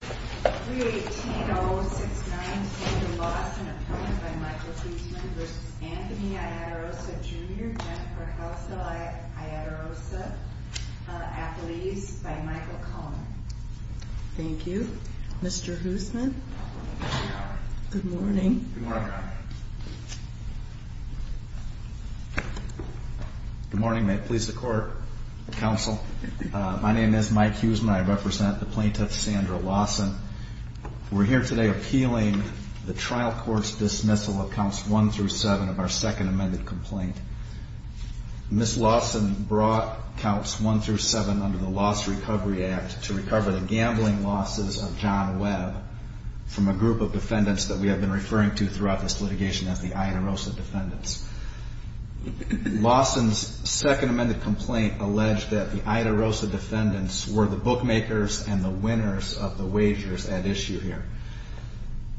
318-069 Sandra Lawson, appointed by Michael Huesman v. Anthony Iaderosa Jr. Jennifer Housdall Iaderosa, athletes by Michael Cullman Thank you. Mr. Huesman? Good morning. Good morning. Good morning. May it please the court, counsel. My name is Mike Huesman. I represent the plaintiff, Sandra Lawson. We're here today appealing the trial court's dismissal of counts one through seven of our second amended complaint. Ms. Lawson brought counts one through seven under the Loss Recovery Act to recover the gambling losses of John Webb from a group of defendants that we have been referring to throughout this litigation as the Iaderosa defendants. Lawson's second amended complaint alleged that the Iaderosa defendants were the bookmakers and the winners of the wagers at issue here.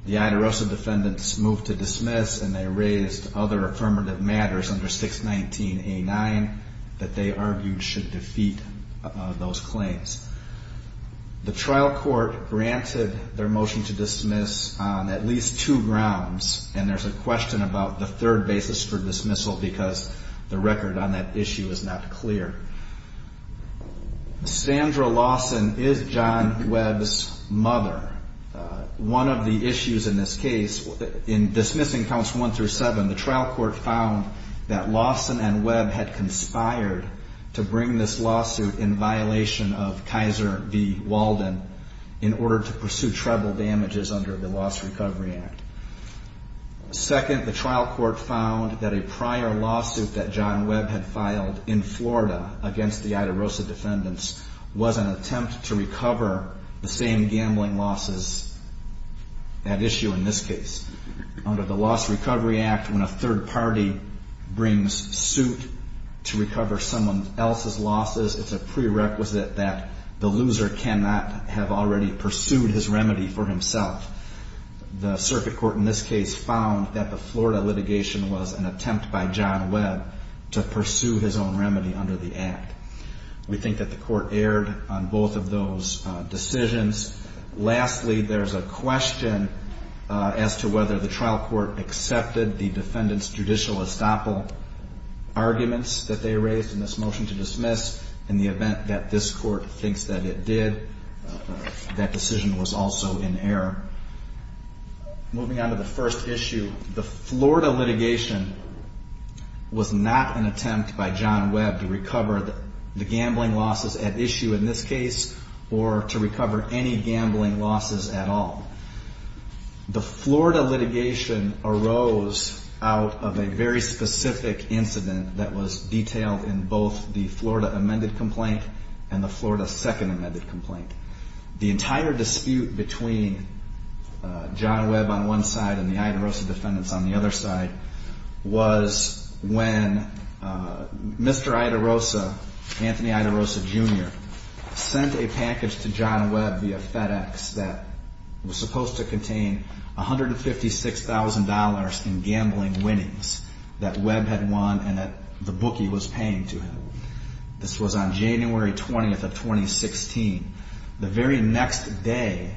The Iaderosa defendants moved to dismiss and they raised other affirmative matters under 619A9 that they argued should defeat those claims. The trial court granted their motion to dismiss on at least two grounds and there's a question about the third basis for dismissal because the record on that issue is not clear. Sandra Lawson is John Webb's mother. One of the issues in this case, in dismissing counts one through seven, the trial court found that Lawson and Webb had conspired to bring this lawsuit in violation of Kaiser v. Walden in order to pursue treble damages under the Loss Recovery Act. Second, the trial court found that a prior lawsuit that John Webb had filed in Florida against the Iaderosa defendants was an attempt to recover the same gambling losses at issue in this case. Under the Loss Recovery Act, when a third party brings suit to recover someone else's losses, it's a prerequisite that the loser cannot have already pursued his remedy for himself. The circuit court in this case found that the Florida litigation was an attempt by John Webb to pursue his own remedy under the Act. We think that the court erred on both of those decisions. Lastly, there's a question as to whether the trial court accepted the defendants' judicial estoppel arguments that they raised in this motion to dismiss. In the event that this court thinks that it did, that decision was also in error. Moving on to the first issue, the Florida litigation was not an attempt by John Webb to recover the gambling losses at issue in this case or to recover any gambling losses at all. The Florida litigation arose out of a very specific incident that was detailed in both the Florida amended complaint and the Florida second amended complaint. The entire dispute between John Webb on one side and the Ida Rosa defendants on the other side was when Mr. Ida Rosa, Anthony Ida Rosa Jr., sent a package to John Webb via FedEx that was supposed to contain $156,000 in gambling winnings that Webb had won and that the bookie was paying to him. This was on January 20th of 2016. The very next day,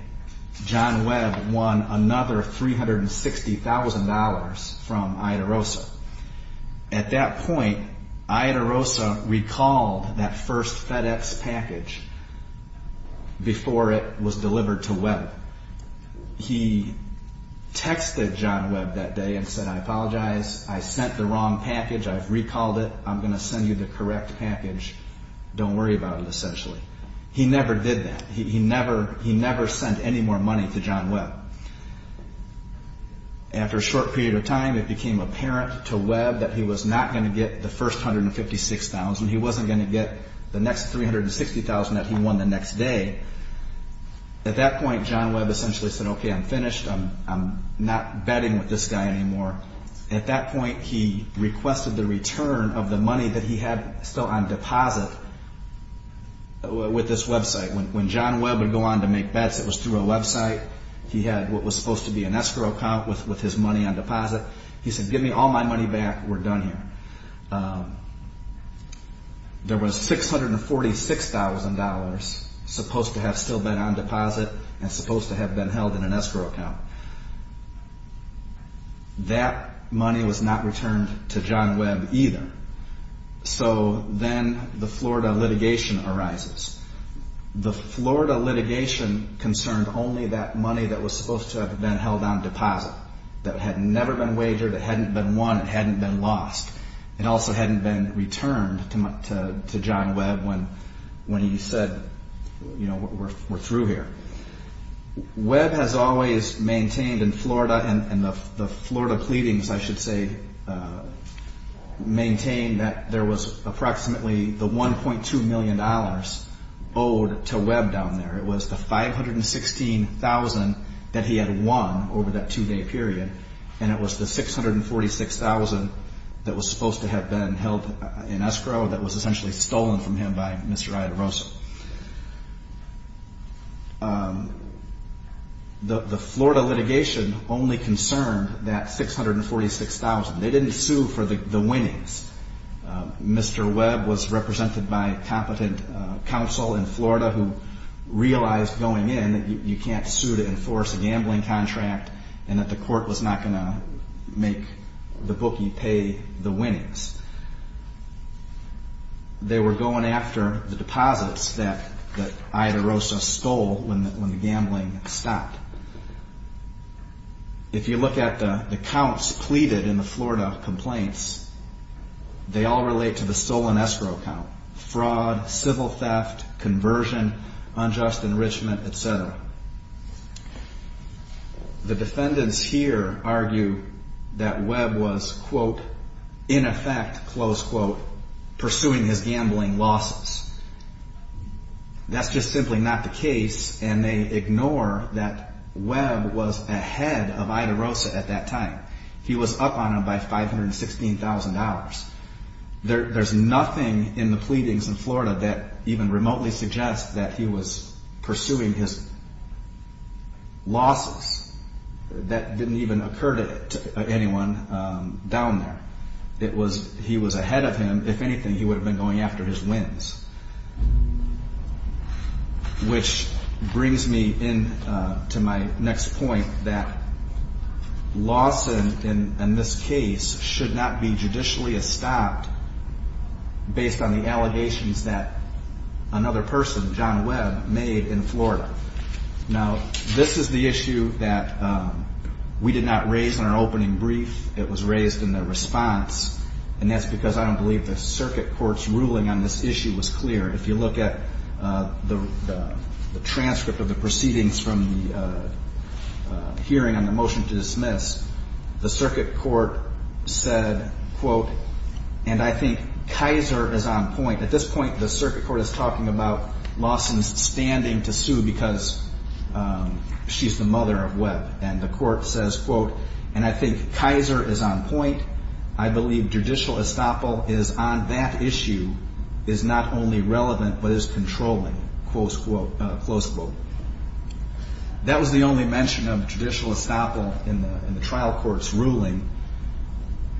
John Webb won another $360,000 from Ida Rosa. At that point, Ida Rosa recalled that first FedEx package before it was delivered to Webb. He texted John Webb that day and said, I apologize. I sent the wrong package. I've recalled it. I'm going to send you the correct package. Don't worry about it, essentially. He never did that. He never sent any more money to John Webb. After a short period of time, it became apparent to Webb that he was not going to get the first $156,000. He wasn't going to get the next $360,000 that he won the next day. At that point, John Webb essentially said, okay, I'm finished. I'm not betting with this guy anymore. At that point, he requested the return of the money that he had still on deposit with this website. When John Webb would go on to make bets, it was through a website. He had what was supposed to be an escrow account with his money on deposit. He said, give me all my money back. We're done here. There was $646,000 supposed to have still been on deposit and supposed to have been held in an escrow account. That money was not returned to John Webb either. Then the Florida litigation arises. The Florida litigation concerned only that money that was supposed to have been held on deposit. That had never been wagered. It hadn't been won. It hadn't been lost. It also hadn't been returned to John Webb when he said we're through here. Webb has always maintained in Florida and the Florida pleadings, I should say, maintained that there was approximately the $1.2 million owed to Webb down there. It was the $516,000 that he had won over that two-day period. It was the $646,000 that was supposed to have been held in escrow that was essentially stolen from him by Mr. Iadarosa. The Florida litigation only concerned that $646,000. They didn't sue for the winnings. Mr. Webb was represented by competent counsel in Florida who realized going in that you can't sue to enforce a gambling contract and that the court was not going to make the bookie pay the winnings. They were going after the deposits that Iadarosa stole when the gambling stopped. If you look at the counts pleaded in the Florida complaints, they all relate to the stolen escrow count. Fraud, civil theft, conversion, unjust enrichment, et cetera. The defendants here argue that Webb was, quote, in effect, close quote, pursuing his gambling losses. That's just simply not the case, and they ignore that Webb was ahead of Iadarosa at that time. He was up on him by $516,000. There's nothing in the pleadings in Florida that even remotely suggests that he was pursuing his losses. That didn't even occur to anyone down there. It was he was ahead of him. If anything, he would have been going after his wins. Which brings me in to my next point that loss in this case should not be judicially estopped based on the allegations that another person, John Webb, made in Florida. Now, this is the issue that we did not raise in our opening brief. It was raised in the response, and that's because I don't believe the circuit court's ruling on this issue was correct. It was clear. If you look at the transcript of the proceedings from the hearing on the motion to dismiss, the circuit court said, quote, and I think Kaiser is on point. At this point, the circuit court is talking about Lawson's standing to sue because she's the mother of Webb. And the court says, quote, and I think Kaiser is on point. I believe judicial estoppel is on that issue is not only relevant but is controlling, close quote. That was the only mention of judicial estoppel in the trial court's ruling.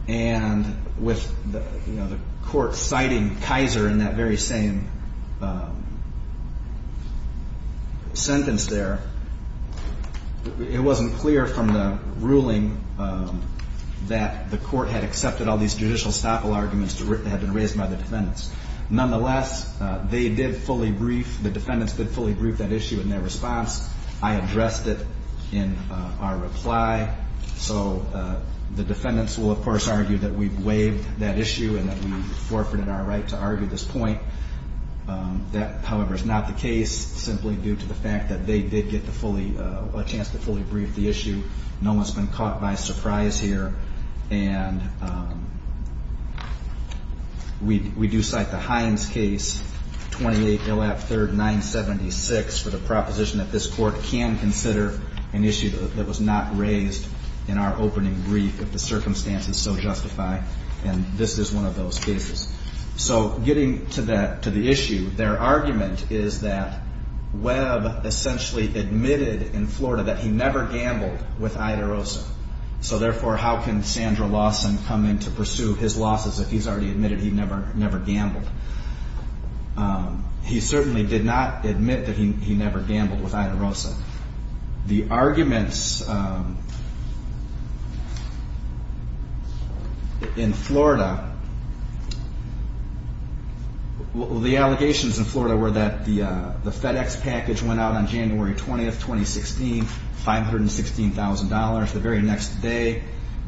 And with the court citing Kaiser in that very same sentence there, it wasn't clear from the ruling that the court had accepted all these judicial estoppel arguments that had been raised by the defendants. Nonetheless, they did fully brief, the defendants did fully brief that issue in their response. I addressed it in our reply. So the defendants will, of course, argue that we've waived that issue and that we forfeited our right to argue this point. That, however, is not the case simply due to the fact that they did get a chance to fully brief the issue. No one's been caught by surprise here. And we do cite the Hines case, 28-03-976, for the proposition that this court can consider an issue that was not raised in our opening brief if the circumstances so justify. And this is one of those cases. So getting to that, to the issue, their argument is that Webb essentially admitted in Florida that he never gambled with Idarosa. So, therefore, how can Sandra Lawson come in to pursue his losses if he's already admitted he never gambled? He certainly did not admit that he never gambled with Idarosa. The arguments in Florida, the allegations in Florida were that the FedEx package went out on January 20th, 2016, $516,000. The very next day,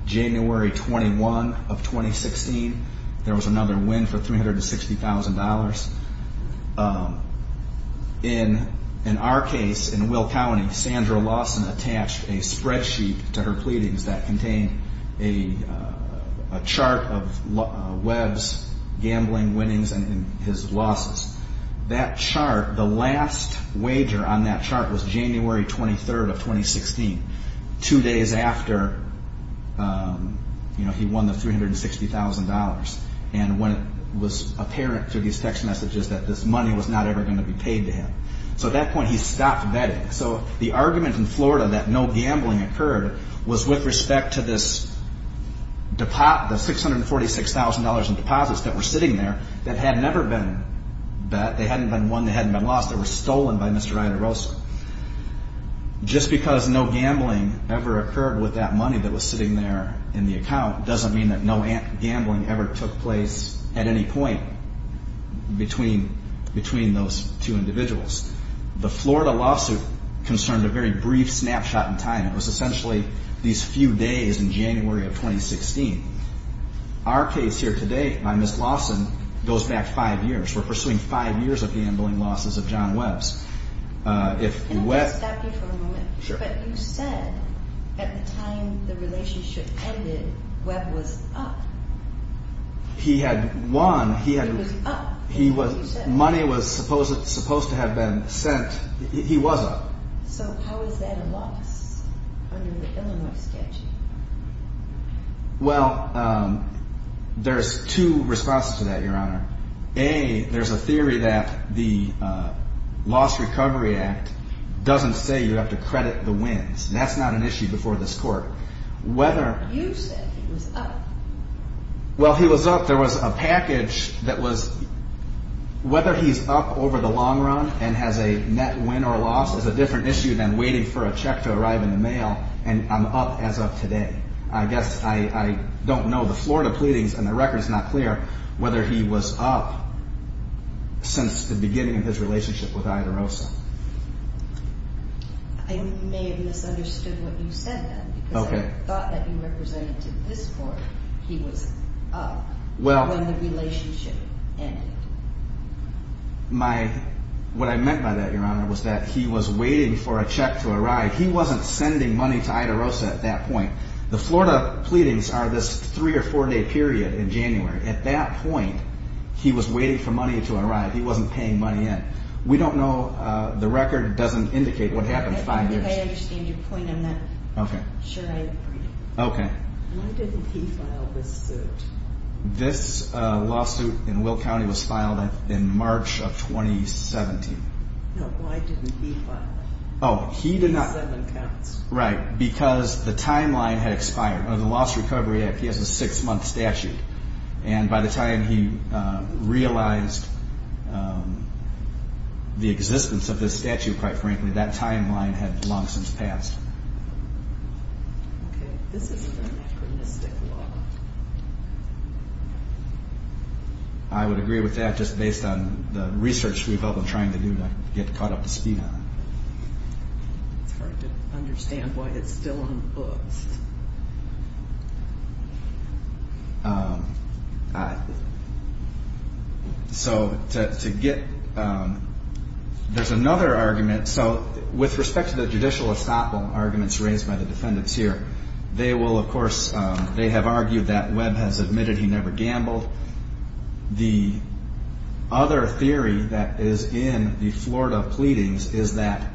January 21 of 2016, there was another win for $360,000. In our case, in Will County, Sandra Lawson attached a spreadsheet to her pleadings that contained a chart of Webb's gambling winnings and his losses. That chart, the last wager on that chart was January 23 of 2016. Two days after he won the $360,000 and when it was apparent through these text messages that this money was not ever going to be paid to him. So at that point, he stopped betting. So the argument in Florida that no gambling occurred was with respect to this $646,000 in deposits that were sitting there that had never been bet. They hadn't been won. They hadn't been lost. They were stolen by Mr. Idarosa. Just because no gambling ever occurred with that money that was sitting there in the account doesn't mean that no gambling ever took place at any point between those two individuals. The Florida lawsuit concerned a very brief snapshot in time. It was essentially these few days in January of 2016. Our case here today by Ms. Lawson goes back five years. We're pursuing five years of gambling losses of John Webb's. Can I just stop you for a moment? Sure. But you said at the time the relationship ended, Webb was up. He had won. He was up, as you said. Money was supposed to have been sent. He was up. So how is that a loss under the Illinois sketch? Well, there's two responses to that, Your Honor. A, there's a theory that the Loss Recovery Act doesn't say you have to credit the wins. That's not an issue before this Court. You said he was up. Well, he was up. There was a package that was whether he's up over the long run and has a net win or loss is a different issue than waiting for a check to arrive in the mail and I'm up as of today. I guess I don't know the Florida pleadings and the record's not clear whether he was up since the beginning of his relationship with Ida Rosa. I may have misunderstood what you said then. Okay. Because I thought that you represented to this Court he was up when the relationship ended. What I meant by that, Your Honor, was that he was waiting for a check to arrive. He wasn't sending money to Ida Rosa at that point. The Florida pleadings are this three or four-day period in January. At that point, he was waiting for money to arrive. He wasn't paying money in. We don't know. The record doesn't indicate what happened five years ago. I think I understand your point on that. Okay. Sure, I agree. Okay. Why didn't he file this suit? This lawsuit in Will County was filed in March of 2017. No, why didn't he file it? Oh, he did not. Seven counts. Right. Because the timeline had expired. Under the Lost Recovery Act, he has a six-month statute. And by the time he realized the existence of this statute, quite frankly, that timeline had long since passed. Okay. This is an anachronistic law. I would agree with that just based on the research we've all been trying to do to get caught up to speed on it. It's hard to understand why it's still on the books. So to get ‑‑ there's another argument. So with respect to the judicial estoppel arguments raised by the defendants here, they will, of course ‑‑ they have argued that Webb has admitted he never gambled. The other theory that is in the Florida pleadings is that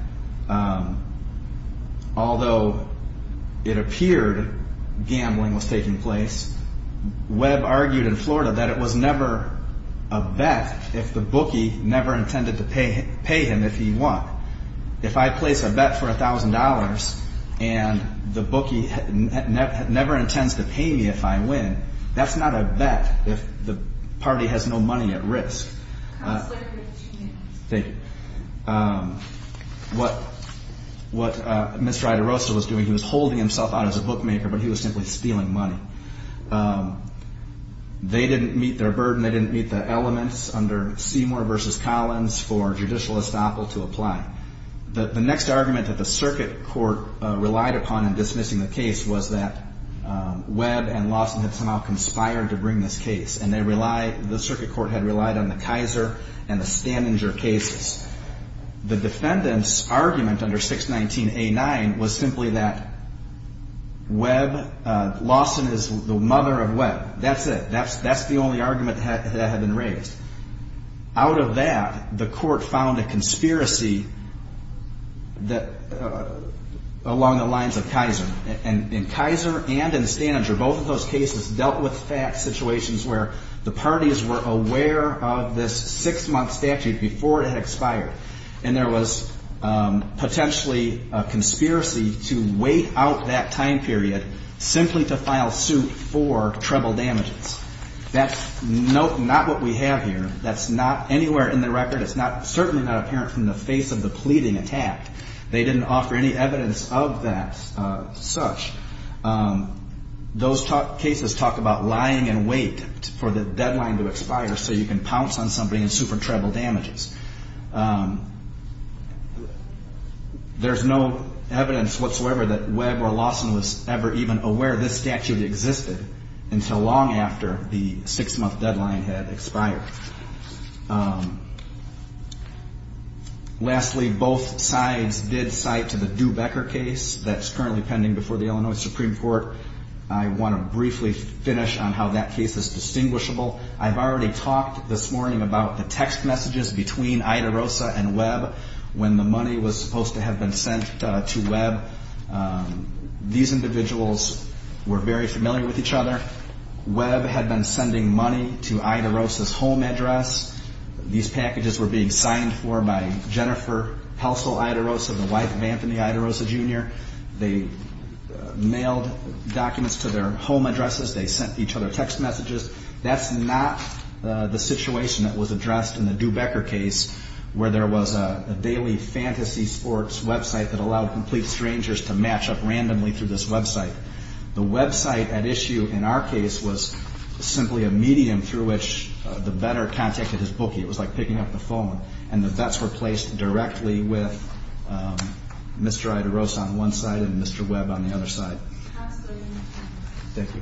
although it appeared gambling was taking place, Webb argued in Florida that it was never a bet if the bookie never intended to pay him if he won. If I place a bet for $1,000 and the bookie never intends to pay me if I win, that's not a bet if the party has no money at risk. Thank you. What Mr. Idarosa was doing, he was holding himself out as a bookmaker, but he was simply stealing money. They didn't meet their burden. They didn't meet the elements under Seymour v. Collins for judicial estoppel to apply. The next argument that the circuit court relied upon in dismissing the case was that Webb and Lawson had somehow conspired to bring this case. And they relied ‑‑ the circuit court had relied on the Kaiser and the Stanninger cases. The defendant's argument under 619A9 was simply that Webb, Lawson is the mother of Webb. That's it. That's the only argument that had been raised. Out of that, the court found a conspiracy along the lines of Kaiser. And in Kaiser and in Stanninger, both of those cases dealt with fact situations where the parties were aware of this six‑month statute before it had expired. And there was potentially a conspiracy to wait out that time period simply to file suit for treble damages. That's not what we have here. That's not anywhere in the record. It's certainly not apparent from the face of the pleading attack. They didn't offer any evidence of that such. Those cases talk about lying in wait for the deadline to expire so you can pounce on somebody and sue for treble damages. There's no evidence whatsoever that Webb or Lawson was ever even aware this statute existed until long after the six‑month deadline had expired. Lastly, both sides did cite to the Dubecker case that's currently pending before the Illinois Supreme Court. I want to briefly finish on how that case is distinguishable. I've already talked this morning about the text messages between Ida Rosa and Webb when the money was supposed to have been sent to Webb. These individuals were very familiar with each other. Webb had been sending money to Ida Rosa's home address. These packages were being signed for by Jennifer Pelsil Ida Rosa, the wife of Anthony Ida Rosa, Jr. They mailed documents to their home addresses. They sent each other text messages. That's not the situation that was addressed in the Dubecker case where there was a daily fantasy sports website that allowed complete strangers to match up randomly through this website. The website at issue in our case was simply a medium through which the veteran contacted his bookie. It was like picking up the phone. And the vets were placed directly with Mr. Ida Rosa on one side and Mr. Webb on the other side. Thank you.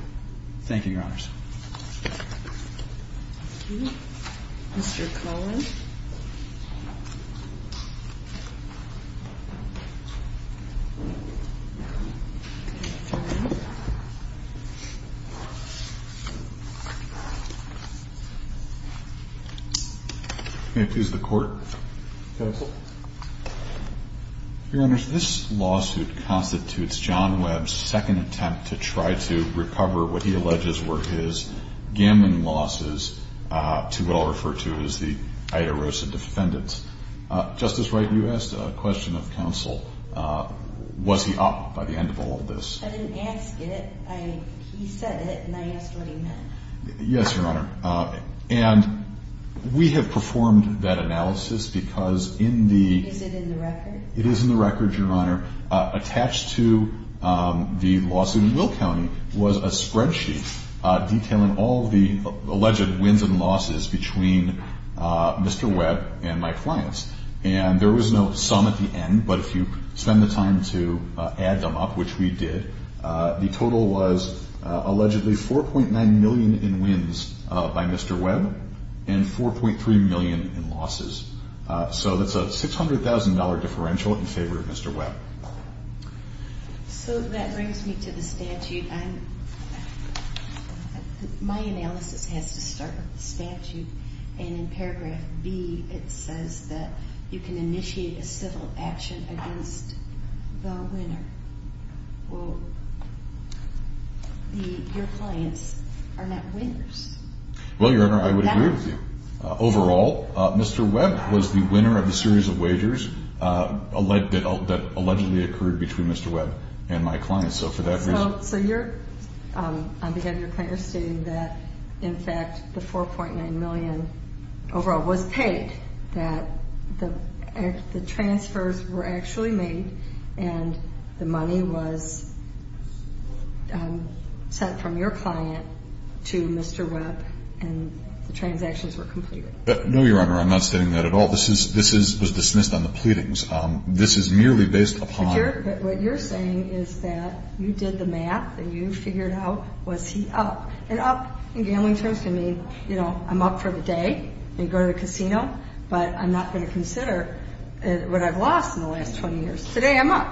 Thank you, Your Honors. Thank you. Mr. Cohen. May I please have the court. Counsel. Your Honors, this lawsuit constitutes John Webb's second attempt to try to recover what he alleges were his gambling losses to what I'll refer to as the Ida Rosa defendants. Justice Wright, you asked a question of counsel. Was he up by the end of all of this? I didn't ask it. He said it and I asked what he meant. Yes, Your Honor. And we have performed that analysis because in the. Is it in the record? It is in the record, Your Honor. Attached to the lawsuit in Will County was a spreadsheet detailing all of the alleged wins and losses between Mr. Webb and my clients. And there was no sum at the end. But if you spend the time to add them up, which we did, the total was allegedly $4.9 million in wins by Mr. Webb and $4.3 million in losses. So that's a $600,000 differential in favor of Mr. Webb. So that brings me to the statute. My analysis has to start with the statute. And in paragraph B, it says that you can initiate a civil action against the winner. Well, your clients are not winners. Well, Your Honor, I would agree with you. Overall, Mr. Webb was the winner of the series of wagers that allegedly occurred between Mr. Webb and my clients. So for that reason. So you're, on behalf of your client, are stating that, in fact, the $4.9 million overall was paid, that the transfers were actually made, and the money was sent from your client to Mr. Webb, and the transactions were completed. No, Your Honor, I'm not stating that at all. This was dismissed on the pleadings. This is merely based upon. But what you're saying is that you did the math and you figured out, was he up? And up, in gambling terms, can mean, you know, I'm up for the day and go to the casino, but I'm not going to consider what I've lost in the last 20 years. Today, I'm up.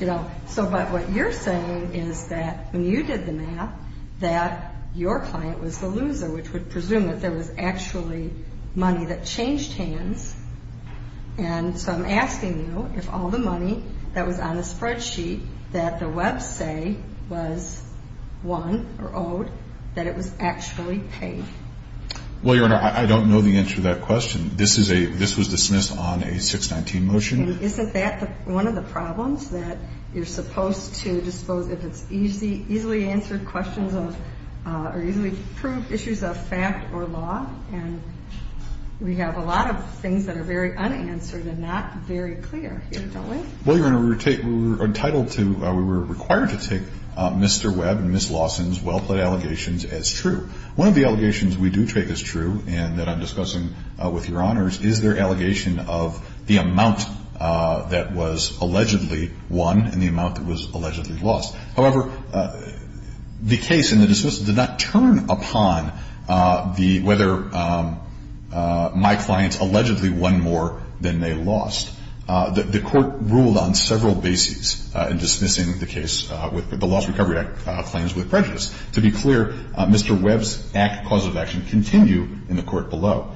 You know, so, but what you're saying is that when you did the math, that your client was the loser, which would presume that there was actually money that changed hands. And so I'm asking you if all the money that was on the spreadsheet that the Webb say was won or owed, that it was actually paid. Well, Your Honor, I don't know the answer to that question. This is a, this was dismissed on a 619 motion. Isn't that one of the problems, that you're supposed to dispose, if it's easily answered questions of, or easily proved issues of fact or law? And we have a lot of things that are very unanswered and not very clear here, don't we? Well, Your Honor, we were entitled to, we were required to take Mr. Webb and Ms. Lawson's well-plaid allegations as true. One of the allegations we do take as true, and that I'm discussing with Your Honors, is their allegation of the amount that was allegedly won and the amount that was allegedly lost. However, the case in the dismissal did not turn upon the, whether my clients allegedly won more than they lost. The court ruled on several bases in dismissing the case with the Lost Recovery Act claims with prejudice. To be clear, Mr. Webb's act, cause of action, continue in the court below.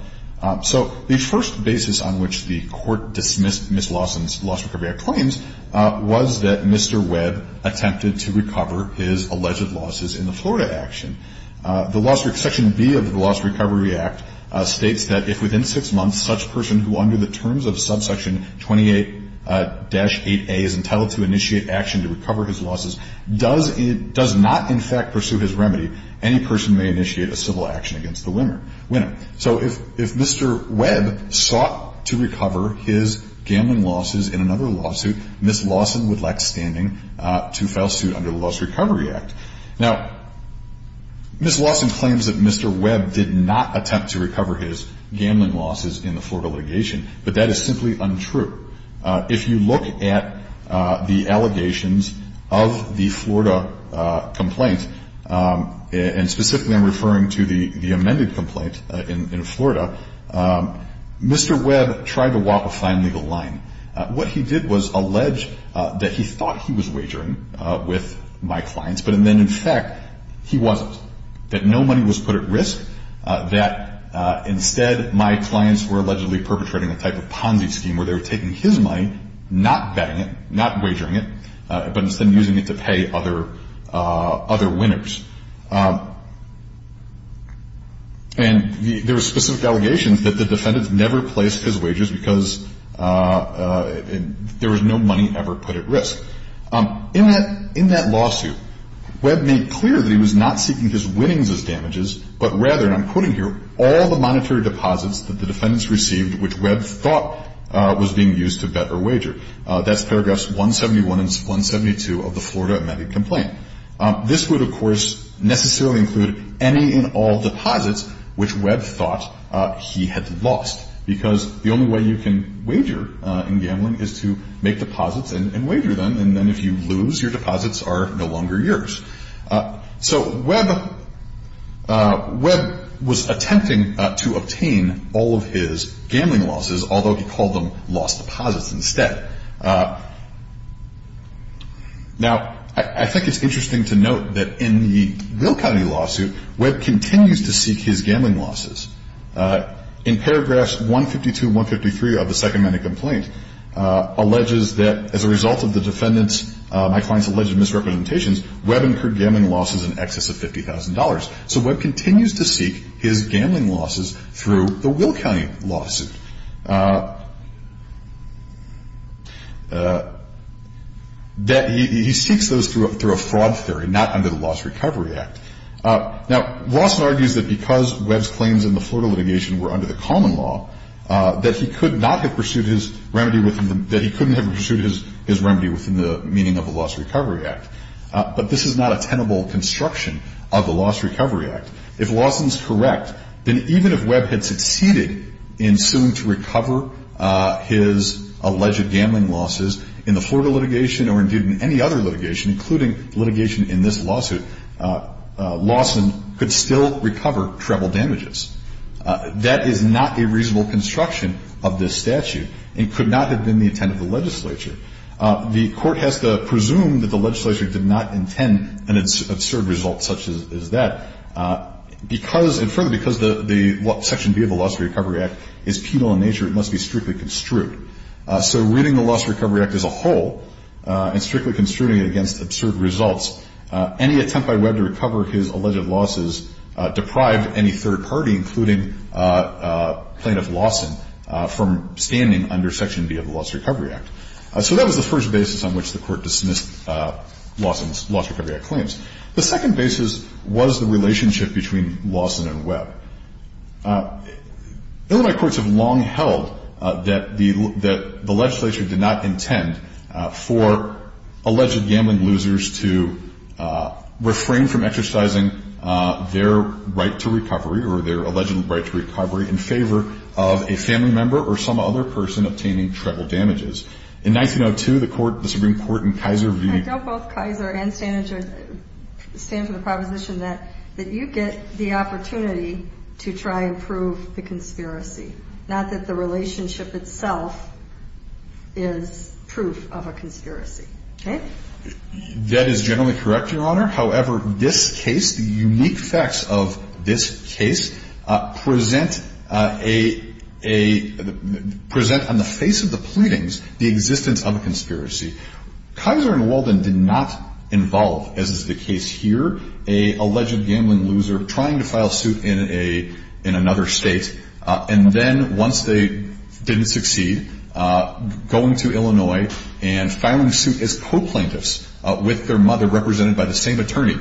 So the first basis on which the court dismissed Ms. Lawson's Lost Recovery Act claims, was that Mr. Webb attempted to recover his alleged losses in the Florida action. The Lost Recovery, Section B of the Lost Recovery Act states that if within six months, such person who under the terms of subsection 28-8A is entitled to initiate action to recover his losses, does not in fact pursue his remedy, any person may initiate a civil action against the winner. So if Mr. Webb sought to recover his gambling losses in another lawsuit, Ms. Lawson would lack standing to file suit under the Lost Recovery Act. Now, Ms. Lawson claims that Mr. Webb did not attempt to recover his gambling losses in the Florida litigation, but that is simply untrue. If you look at the allegations of the Florida complaint, and specifically I'm referring to the amended complaint in Florida, Mr. Webb tried to walk a fine legal line. What he did was allege that he thought he was wagering with my clients, but then in fact he wasn't, that no money was put at risk, that instead my clients were allegedly perpetrating a type of Ponzi scheme where they were taking his money, not betting it, not wagering it, but instead using it to pay other winners. And there were specific allegations that the defendants never placed his wages because there was no money ever put at risk. In that lawsuit, Webb made clear that he was not seeking his winnings as damages, but rather, and I'm quoting here, all the monetary deposits that the defendants received which Webb thought was being used to bet or wager. That's paragraphs 171 and 172 of the Florida amended complaint. This would, of course, necessarily include any and all deposits which Webb thought he had lost because the only way you can wager in gambling is to make deposits and wager them, and then if you lose, your deposits are no longer yours. So Webb was attempting to obtain all of his gambling losses, although he called them lost deposits instead. Now, I think it's interesting to note that in the Will County lawsuit, Webb continues to seek his gambling losses. In paragraphs 152 and 153 of the second amended complaint, alleges that as a result of the defendant's, my client's alleged misrepresentations, Webb incurred gambling losses in excess of $50,000. So Webb continues to seek his gambling losses through the Will County lawsuit. He seeks those through a fraud theory, not under the Loss Recovery Act. Now, Lawson argues that because Webb's claims in the Florida litigation were under the common law, that he could not have pursued his remedy within the meaning of the Loss Recovery Act. But this is not a tenable construction of the Loss Recovery Act. If Lawson's correct, then even if Webb had succeeded in suing to recover his alleged gambling losses, in the Florida litigation or, indeed, in any other litigation, including litigation in this lawsuit, Lawson could still recover treble damages. That is not a reasonable construction of this statute and could not have been the intent of the legislature. The court has to presume that the legislature did not intend an absurd result such as that. Because, and further, because Section B of the Loss Recovery Act is penal in nature, it must be strictly construed. So reading the Loss Recovery Act as a whole and strictly construing it against absurd results, any attempt by Webb to recover his alleged losses deprived any third party, including plaintiff Lawson, from standing under Section B of the Loss Recovery Act. So that was the first basis on which the court dismissed Lawson's Loss Recovery Act claims. The second basis was the relationship between Lawson and Webb. Illinois courts have long held that the legislature did not intend for alleged gambling losers to refrain from exercising their right to recovery or their alleged right to recovery in favor of a family member or some other person obtaining treble damages. In 1902, the court, the Supreme Court in Kaiser v. I doubt both Kaiser and Stanager stand for the proposition that you get the opportunity to try and prove the conspiracy, not that the relationship itself is proof of a conspiracy. That is generally correct, Your Honor. However, this case, the unique facts of this case, present on the face of the pleadings the existence of a conspiracy. Kaiser and Walden did not involve, as is the case here, an alleged gambling loser trying to file suit in another state. And then once they didn't succeed, going to Illinois and filing suit as court plaintiffs with their mother, represented by the same attorney,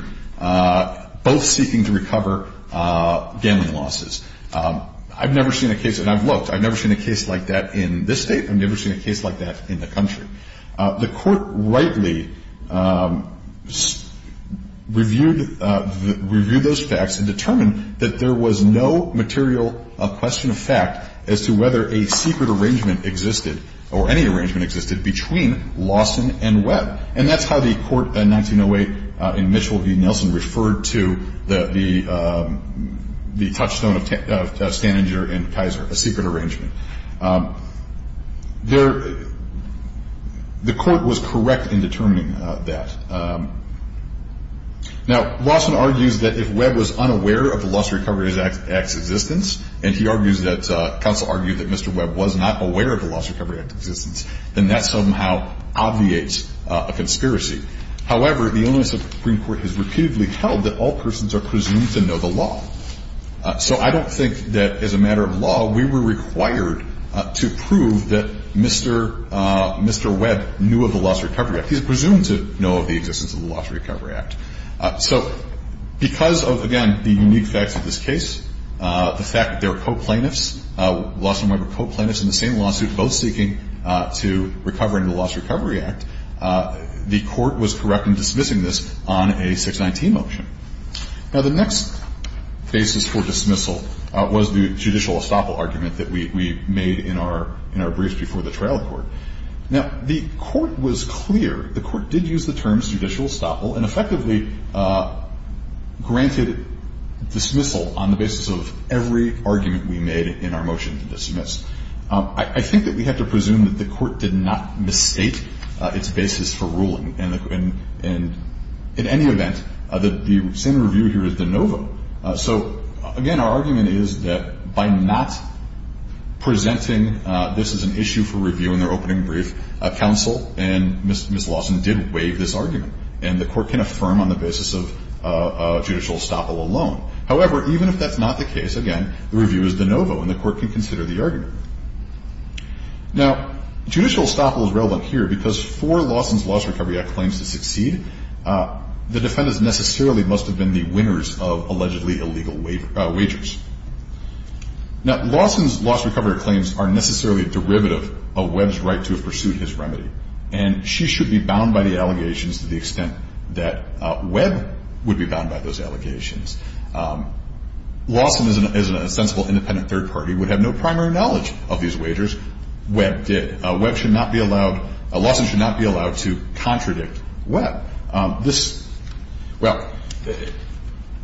both seeking to recover gambling losses. I've never seen a case, and I've looked, I've never seen a case like that in this state. I've never seen a case like that in the country. The court rightly reviewed those facts and determined that there was no material question of fact as to whether a secret arrangement existed or any arrangement existed between Lawson and Webb. And that's how the court in 1908 in Mitchell v. Nelson referred to the touchstone of Stanager and Kaiser, a secret arrangement. The court was correct in determining that. Now, Lawson argues that if Webb was unaware of the Loss Recovery Act's existence, and he argues that counsel argued that Mr. Webb was not aware of the Loss Recovery Act's existence, then that somehow obviates a conspiracy. However, the Illinois Supreme Court has repeatedly held that all persons are presumed to know the law. So I don't think that as a matter of law we were required to prove that Mr. Webb knew of the Loss Recovery Act. He's presumed to know of the existence of the Loss Recovery Act. So because of, again, the unique facts of this case, the fact that they're co-plaintiffs, Lawson and Webb are co-plaintiffs in the same lawsuit, both seeking to recover in the Loss Recovery Act, the court was correct in dismissing this on a 619 motion. Now, the next basis for dismissal was the judicial estoppel argument that we made in our briefs before the trial court. Now, the court was clear, the court did use the terms judicial estoppel and effectively granted dismissal on the basis of every argument we made in our motion to dismiss. I think that we have to presume that the court did not mistake its basis for ruling, and in any event, the same review here is de novo. So, again, our argument is that by not presenting this as an issue for review in their opening brief, counsel and Ms. Lawson did waive this argument, and the court can affirm on the basis of judicial estoppel alone. However, even if that's not the case, again, the review is de novo and the court can consider the argument. Now, judicial estoppel is relevant here because for Lawson's Loss Recovery Act claims to succeed, the defendants necessarily must have been the winners of allegedly illegal wagers. Now, Lawson's Loss Recovery Act claims are necessarily a derivative of Webb's right to have pursued his remedy, and she should be bound by the allegations to the extent that Webb would be bound by those allegations. Lawson, as a sensible independent third party, would have no primary knowledge of these wagers. Webb did. Webb should not be allowed, Lawson should not be allowed to contradict Webb. This, well,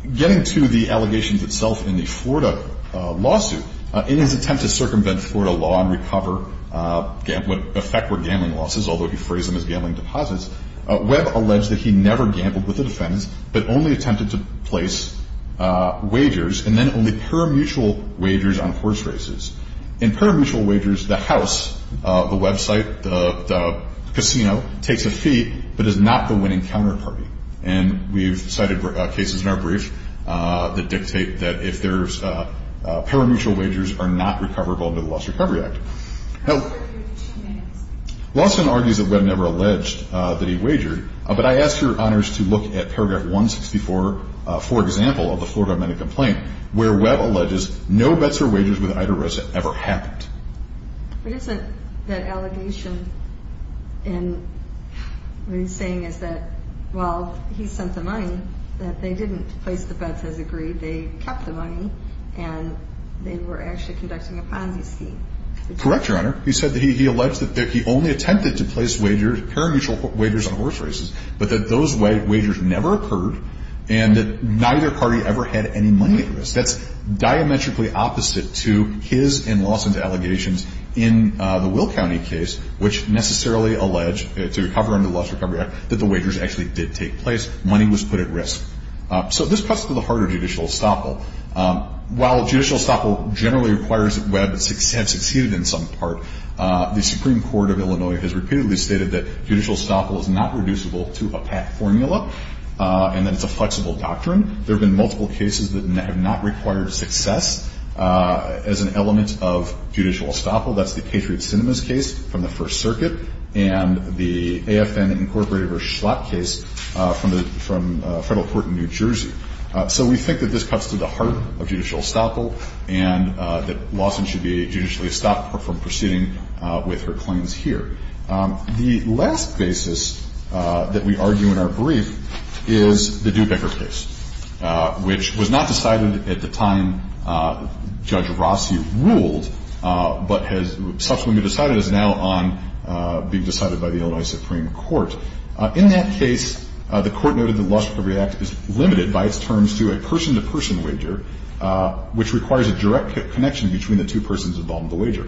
getting to the allegations itself in the Florida lawsuit, in his attempt to circumvent Florida law and recover what in effect were gambling losses, although he phrased them as gambling deposits, Webb alleged that he never gambled with the defendants but only attempted to place wagers and then only parimutuel wagers on horse races. In parimutuel wagers, the house, the website, the casino, takes a fee but is not the winning counterparty. And we've cited cases in our brief that dictate that if there's parimutuel wagers are not recoverable under the Loss Recovery Act. Lawson argues that Webb never alleged that he wagered, but I ask your honors to look at paragraph 164, for example, of the Florida amended complaint, where Webb alleges no bets or wagers with Ida Rosa ever happened. But isn't that allegation in what he's saying is that, well, he sent the money, that they didn't place the bets as agreed, they kept the money, and they were actually conducting a Ponzi scheme. Correct, your honor. He said that he alleged that he only attempted to place wagers, parimutuel wagers on horse races, but that those wagers never occurred and that neither party ever had any money at risk. That's diametrically opposite to his and Lawson's allegations in the Will County case, which necessarily alleged to recover under the Loss Recovery Act that the wagers actually did take place. Money was put at risk. So this cuts to the harder judicial estoppel. While judicial estoppel generally requires that Webb have succeeded in some part, the Supreme Court of Illinois has repeatedly stated that judicial estoppel is not reducible to a PAC formula and that it's a flexible doctrine. There have been multiple cases that have not required success as an element of judicial estoppel. That's the Patriot Sinema's case from the First Circuit and the AFN Incorporated versus Schlott case from a federal court in New Jersey. So we think that this cuts to the heart of judicial estoppel and that Lawson should be judicially estopped from proceeding with her claims here. The last basis that we argue in our brief is the Dubecker case, which was not decided at the time Judge Rossi ruled, but has subsequently been decided as now on being decided by the Illinois Supreme Court. In that case, the Court noted that the Lost Recovery Act is limited by its terms to a person-to-person wager, which requires a direct connection between the two persons involved in the wager.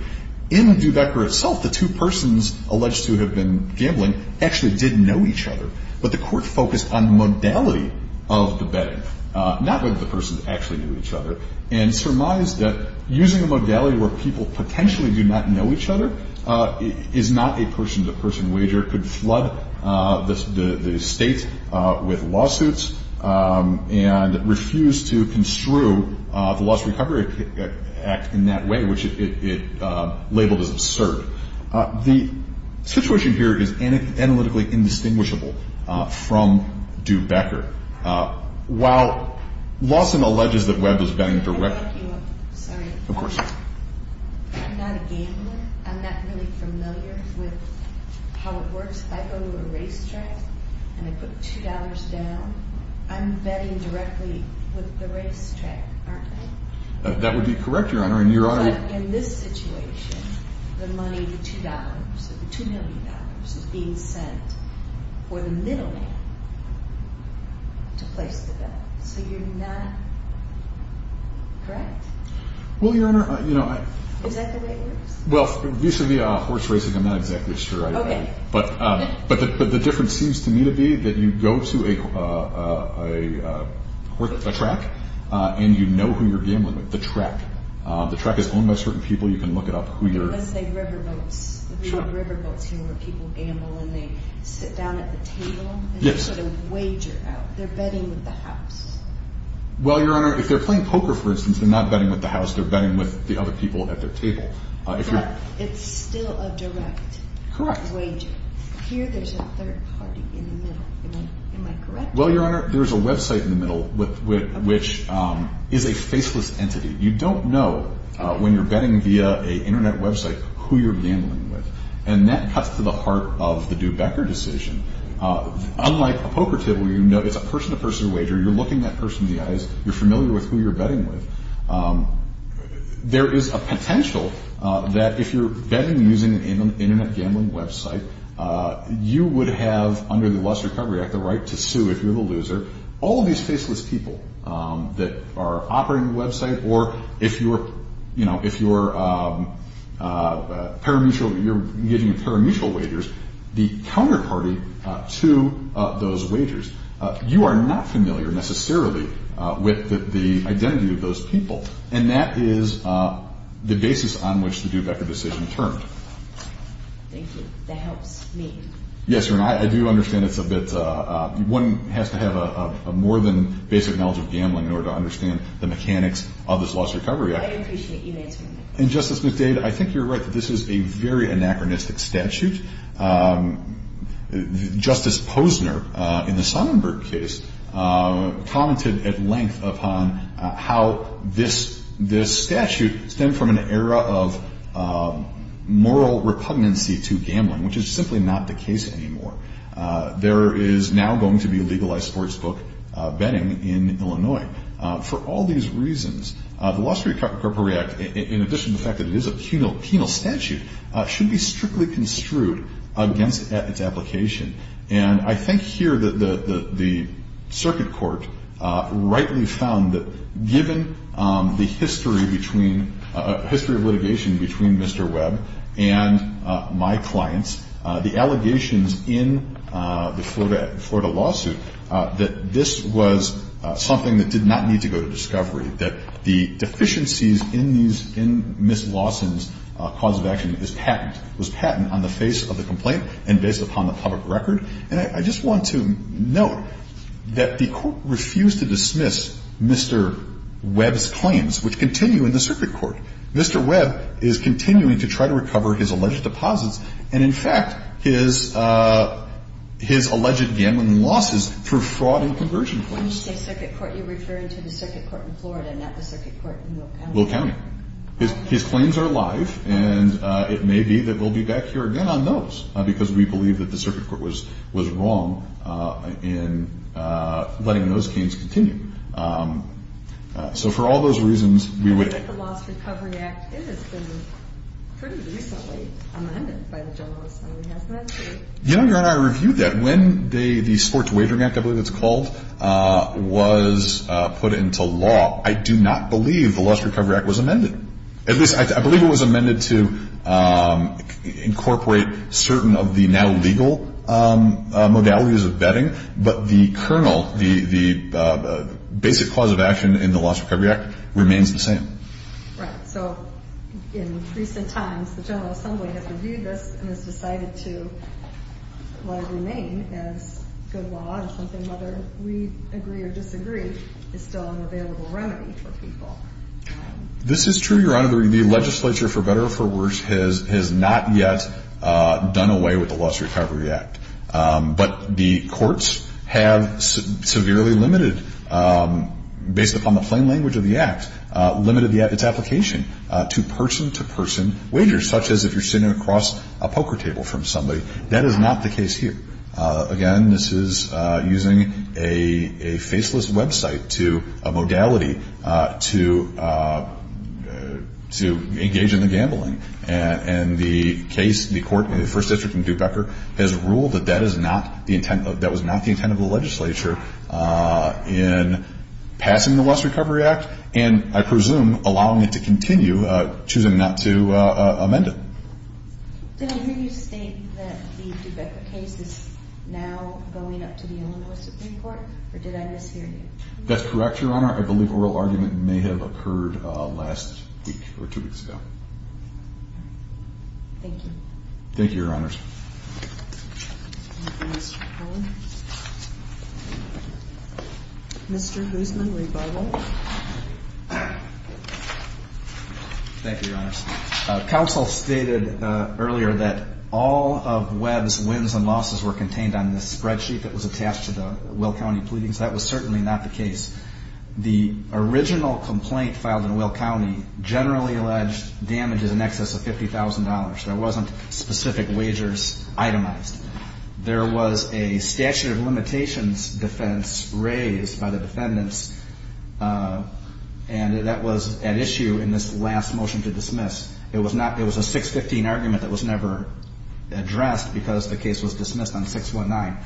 In Dubecker itself, the two persons alleged to have been gambling actually did know each other, but the Court focused on modality of the betting, not whether the persons actually knew each other, and surmised that using a modality where people potentially do not know each other is not a person-to-person wager, could flood the state with lawsuits and refuse to construe the Lost Recovery Act in that way, which it labeled as absurd. The situation here is analytically indistinguishable from Dubecker. While Lawson alleges that Webb was betting directly— Can I back you up? Sorry. Of course. I'm not a gambler. I'm not really familiar with how it works. If I go to a racetrack and I put $2 down, I'm betting directly with the racetrack, aren't I? That would be correct, Your Honor. In this situation, the money, the $2, the $2 million is being sent for the middleman to place the bet. So you're not correct? Well, Your Honor— Is that the way it works? Well, vis-à-vis horse racing, I'm not exactly sure. Okay. But the difference seems to me to be that you go to a track and you know who you're gambling with. The track. The track is owned by certain people. You can look it up who you're— Let's say riverboats. Sure. Riverboats here where people gamble and they sit down at the table and they sort of wager out. They're betting with the house. Well, Your Honor, if they're playing poker, for instance, they're not betting with the house. They're betting with the other people at their table. But it's still a direct wager. Correct. Here there's a third party in the middle. Am I correct? Well, Your Honor, there's a website in the middle which is a faceless entity. You don't know when you're betting via an Internet website who you're gambling with, and that cuts to the heart of the Dew-Becker decision. Unlike a poker table, it's a person-to-person wager. You're looking that person in the eyes. You're familiar with who you're betting with. There is a potential that if you're betting using an Internet gambling website, you would have, under the Lust Recovery Act, the right to sue if you're the loser. All of these faceless people that are operating the website, or if you're engaging in parimutuel wagers, the counterparty to those wagers. You are not familiar necessarily with the identity of those people, and that is the basis on which the Dew-Becker decision turned. Thank you. That helps me. Yes, Your Honor. I do understand it's a bit one has to have more than basic knowledge of gambling in order to understand the mechanics of this Lust Recovery Act. I appreciate you answering that. And, Justice McDade, I think you're right that this is a very anachronistic statute. Justice Posner, in the Sonnenberg case, commented at length upon how this statute stemmed from an era of moral repugnancy to gambling, which is simply not the case anymore. There is now going to be legalized sportsbook betting in Illinois. For all these reasons, the Lust Recovery Act, in addition to the fact that it is a penal statute, should be strictly construed against its application. And I think here the circuit court rightly found that, given the history of litigation between Mr. Webb and my clients, the allegations in the Florida lawsuit that this was something that did not need to go to discovery, that the deficiencies in Ms. Lawson's cause of action is patent, was patent on the face of the complaint and based upon the public record. And I just want to note that the Court refused to dismiss Mr. Webb's claims, which continue in the circuit court. Mr. Webb is continuing to try to recover his alleged deposits and, in fact, his alleged gambling losses through fraud and conversion claims. When you say circuit court, you're referring to the circuit court in Florida, not the circuit court in Will County. Will County. His claims are alive, and it may be that we'll be back here again on those, because we believe that the circuit court was wrong in letting those games continue. So for all those reasons, we would— I think the Lust Recovery Act has been pretty recently amended by the general assembly, hasn't it? You know, Your Honor, I reviewed that. When the Sports Waivering Act, I believe it's called, was put into law, I do not believe the Lust Recovery Act was amended. At least, I believe it was amended to incorporate certain of the now legal modalities of betting, but the kernel, the basic cause of action in the Lust Recovery Act remains the same. Right. So in recent times, the general assembly has reviewed this and has decided to let it remain as good law, and something, whether we agree or disagree, is still an available remedy for people. This is true, Your Honor. The legislature, for better or for worse, has not yet done away with the Lust Recovery Act. But the courts have severely limited, based upon the plain language of the act, limited its application to person-to-person wagers, such as if you're sitting across a poker table from somebody. That is not the case here. Again, this is using a faceless website to—a modality to engage in the gambling. And the case, the court in the First District in Duke-Becker, has ruled that that is not the intent of—that was not the intent of the legislature in passing the Lust Recovery Act, and I presume allowing it to continue, choosing not to amend it. Did I hear you state that the Duke-Becker case is now going up to the Illinois Supreme Court, or did I mishear you? That's correct, Your Honor. I believe oral argument may have occurred last week or two weeks ago. Thank you. Thank you, Your Honors. Thank you, Mr. Poehler. Mr. Hoosman, rebuttal. Thank you, Your Honors. Counsel stated earlier that all of Webb's wins and losses were contained on this spreadsheet that was attached to the Will County pleadings. That was certainly not the case. The original complaint filed in Will County generally alleged damages in excess of $50,000. There wasn't specific wagers itemized. There was a statute of limitations defense raised by the defendants, and that was at issue in this last motion to dismiss. It was a 615 argument that was never addressed because the case was dismissed on 619.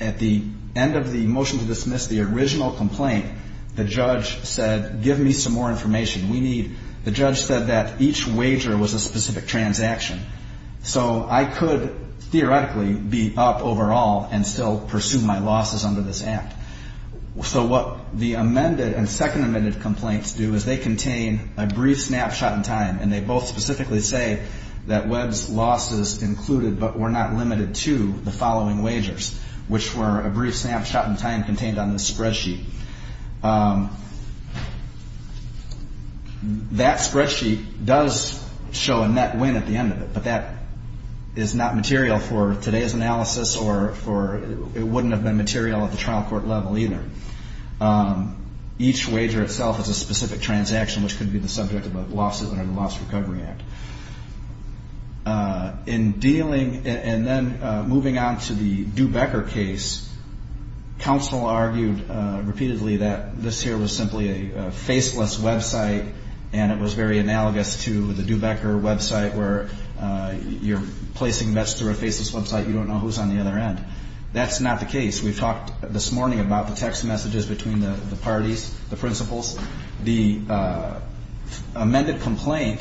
At the end of the motion to dismiss the original complaint, the judge said, give me some more information. The judge said that each wager was a specific transaction, so I could theoretically be up overall and still pursue my losses under this act. So what the amended and second amended complaints do is they contain a brief snapshot in time, and they both specifically say that Webb's losses included but were not limited to the following wagers, which were a brief snapshot in time contained on this spreadsheet. That spreadsheet does show a net win at the end of it, but that is not material for today's analysis or it wouldn't have been material at the trial court level either. Each wager itself is a specific transaction, which could be the subject of a lawsuit under the Loss Recovery Act. In dealing and then moving on to the Duebecker case, counsel argued repeatedly that this here was simply a faceless website and it was very analogous to the Duebecker website where you're placing bets through a faceless website, you don't know who's on the other end. That's not the case. We've talked this morning about the text messages between the parties, the principals. The amended complaint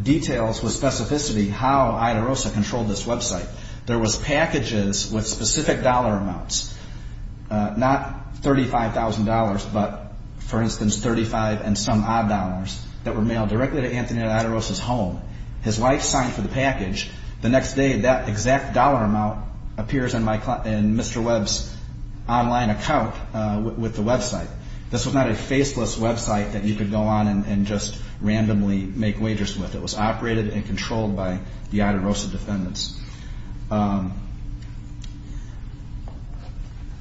details with specificity how Ida Rosa controlled this website. There was packages with specific dollar amounts, not $35,000, but, for instance, 35 and some odd dollars that were mailed directly to Anthony Ida Rosa's home. His wife signed for the package. The next day, that exact dollar amount appears in Mr. Webb's online account with the website. This was not a faceless website that you could go on and just randomly make wagers with. It was operated and controlled by the Ida Rosa defendants.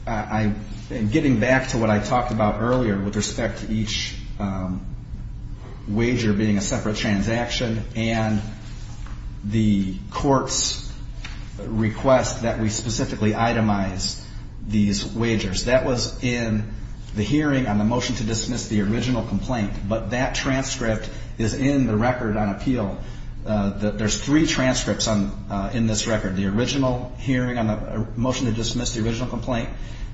Getting back to what I talked about earlier with respect to each wager being a separate transaction and the court's request that we specifically itemize these wagers, that was in the hearing on the motion to dismiss the original complaint, but that transcript is in the record on appeal. There's three transcripts in this record, the original hearing on the motion to dismiss the original complaint,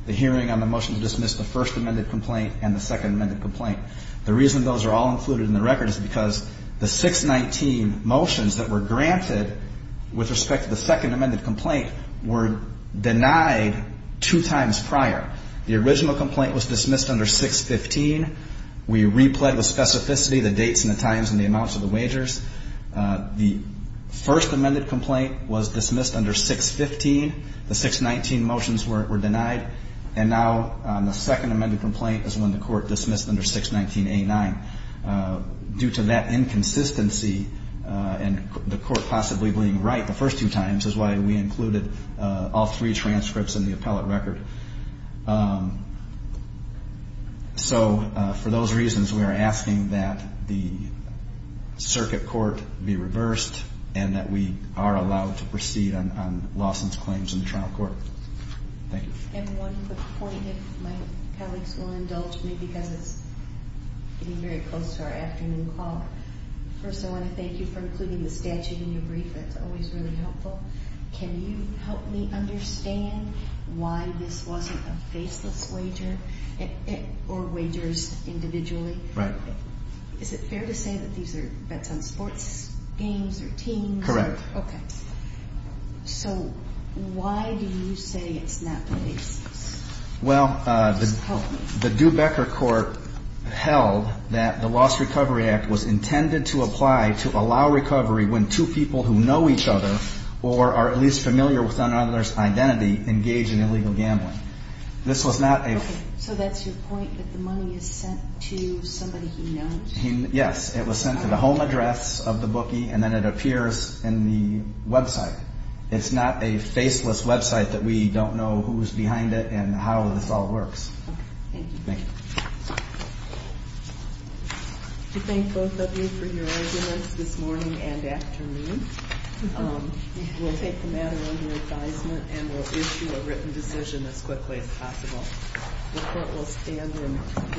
the hearing on the motion to dismiss the first amended complaint, and the second amended complaint. The reason those are all included in the record is because the 619 motions that were granted with respect to the second amended complaint were denied two times prior. The original complaint was dismissed under 615. We replayed the specificity, the dates and the times and the amounts of the wagers. The first amended complaint was dismissed under 615. The 619 motions were denied. And now the second amended complaint is when the court dismissed under 619A9. Due to that inconsistency and the court possibly being right the first two times, is why we included all three transcripts in the appellate record. So for those reasons, we are asking that the circuit court be reversed and that we are allowed to proceed on Lawson's claims in the trial court. Thank you. And one quick point, if my colleagues will indulge me because it's getting very close to our afternoon call. First, I want to thank you for including the statute in your brief. That's always really helpful. Can you help me understand why this wasn't a faceless wager or wagers individually? Right. Is it fair to say that these are bets on sports games or teams? Correct. Okay. So why do you say it's not faceless? Well, the Dubecker court held that the Lost Recovery Act was intended to apply to allow recovery when two people who know each other or are at least familiar with another's identity engage in illegal gambling. This was not a... Okay. So that's your point that the money is sent to somebody he knows? Yes. It was sent to the home address of the bookie and then it appears in the website. It's not a faceless website that we don't know who's behind it and how this all works. Okay. Thank you. Thank you. We thank both of you for your arguments this morning and afternoon. We'll take the matter under advisement and we'll issue a written decision as quickly as possible. The court will stand in hearing.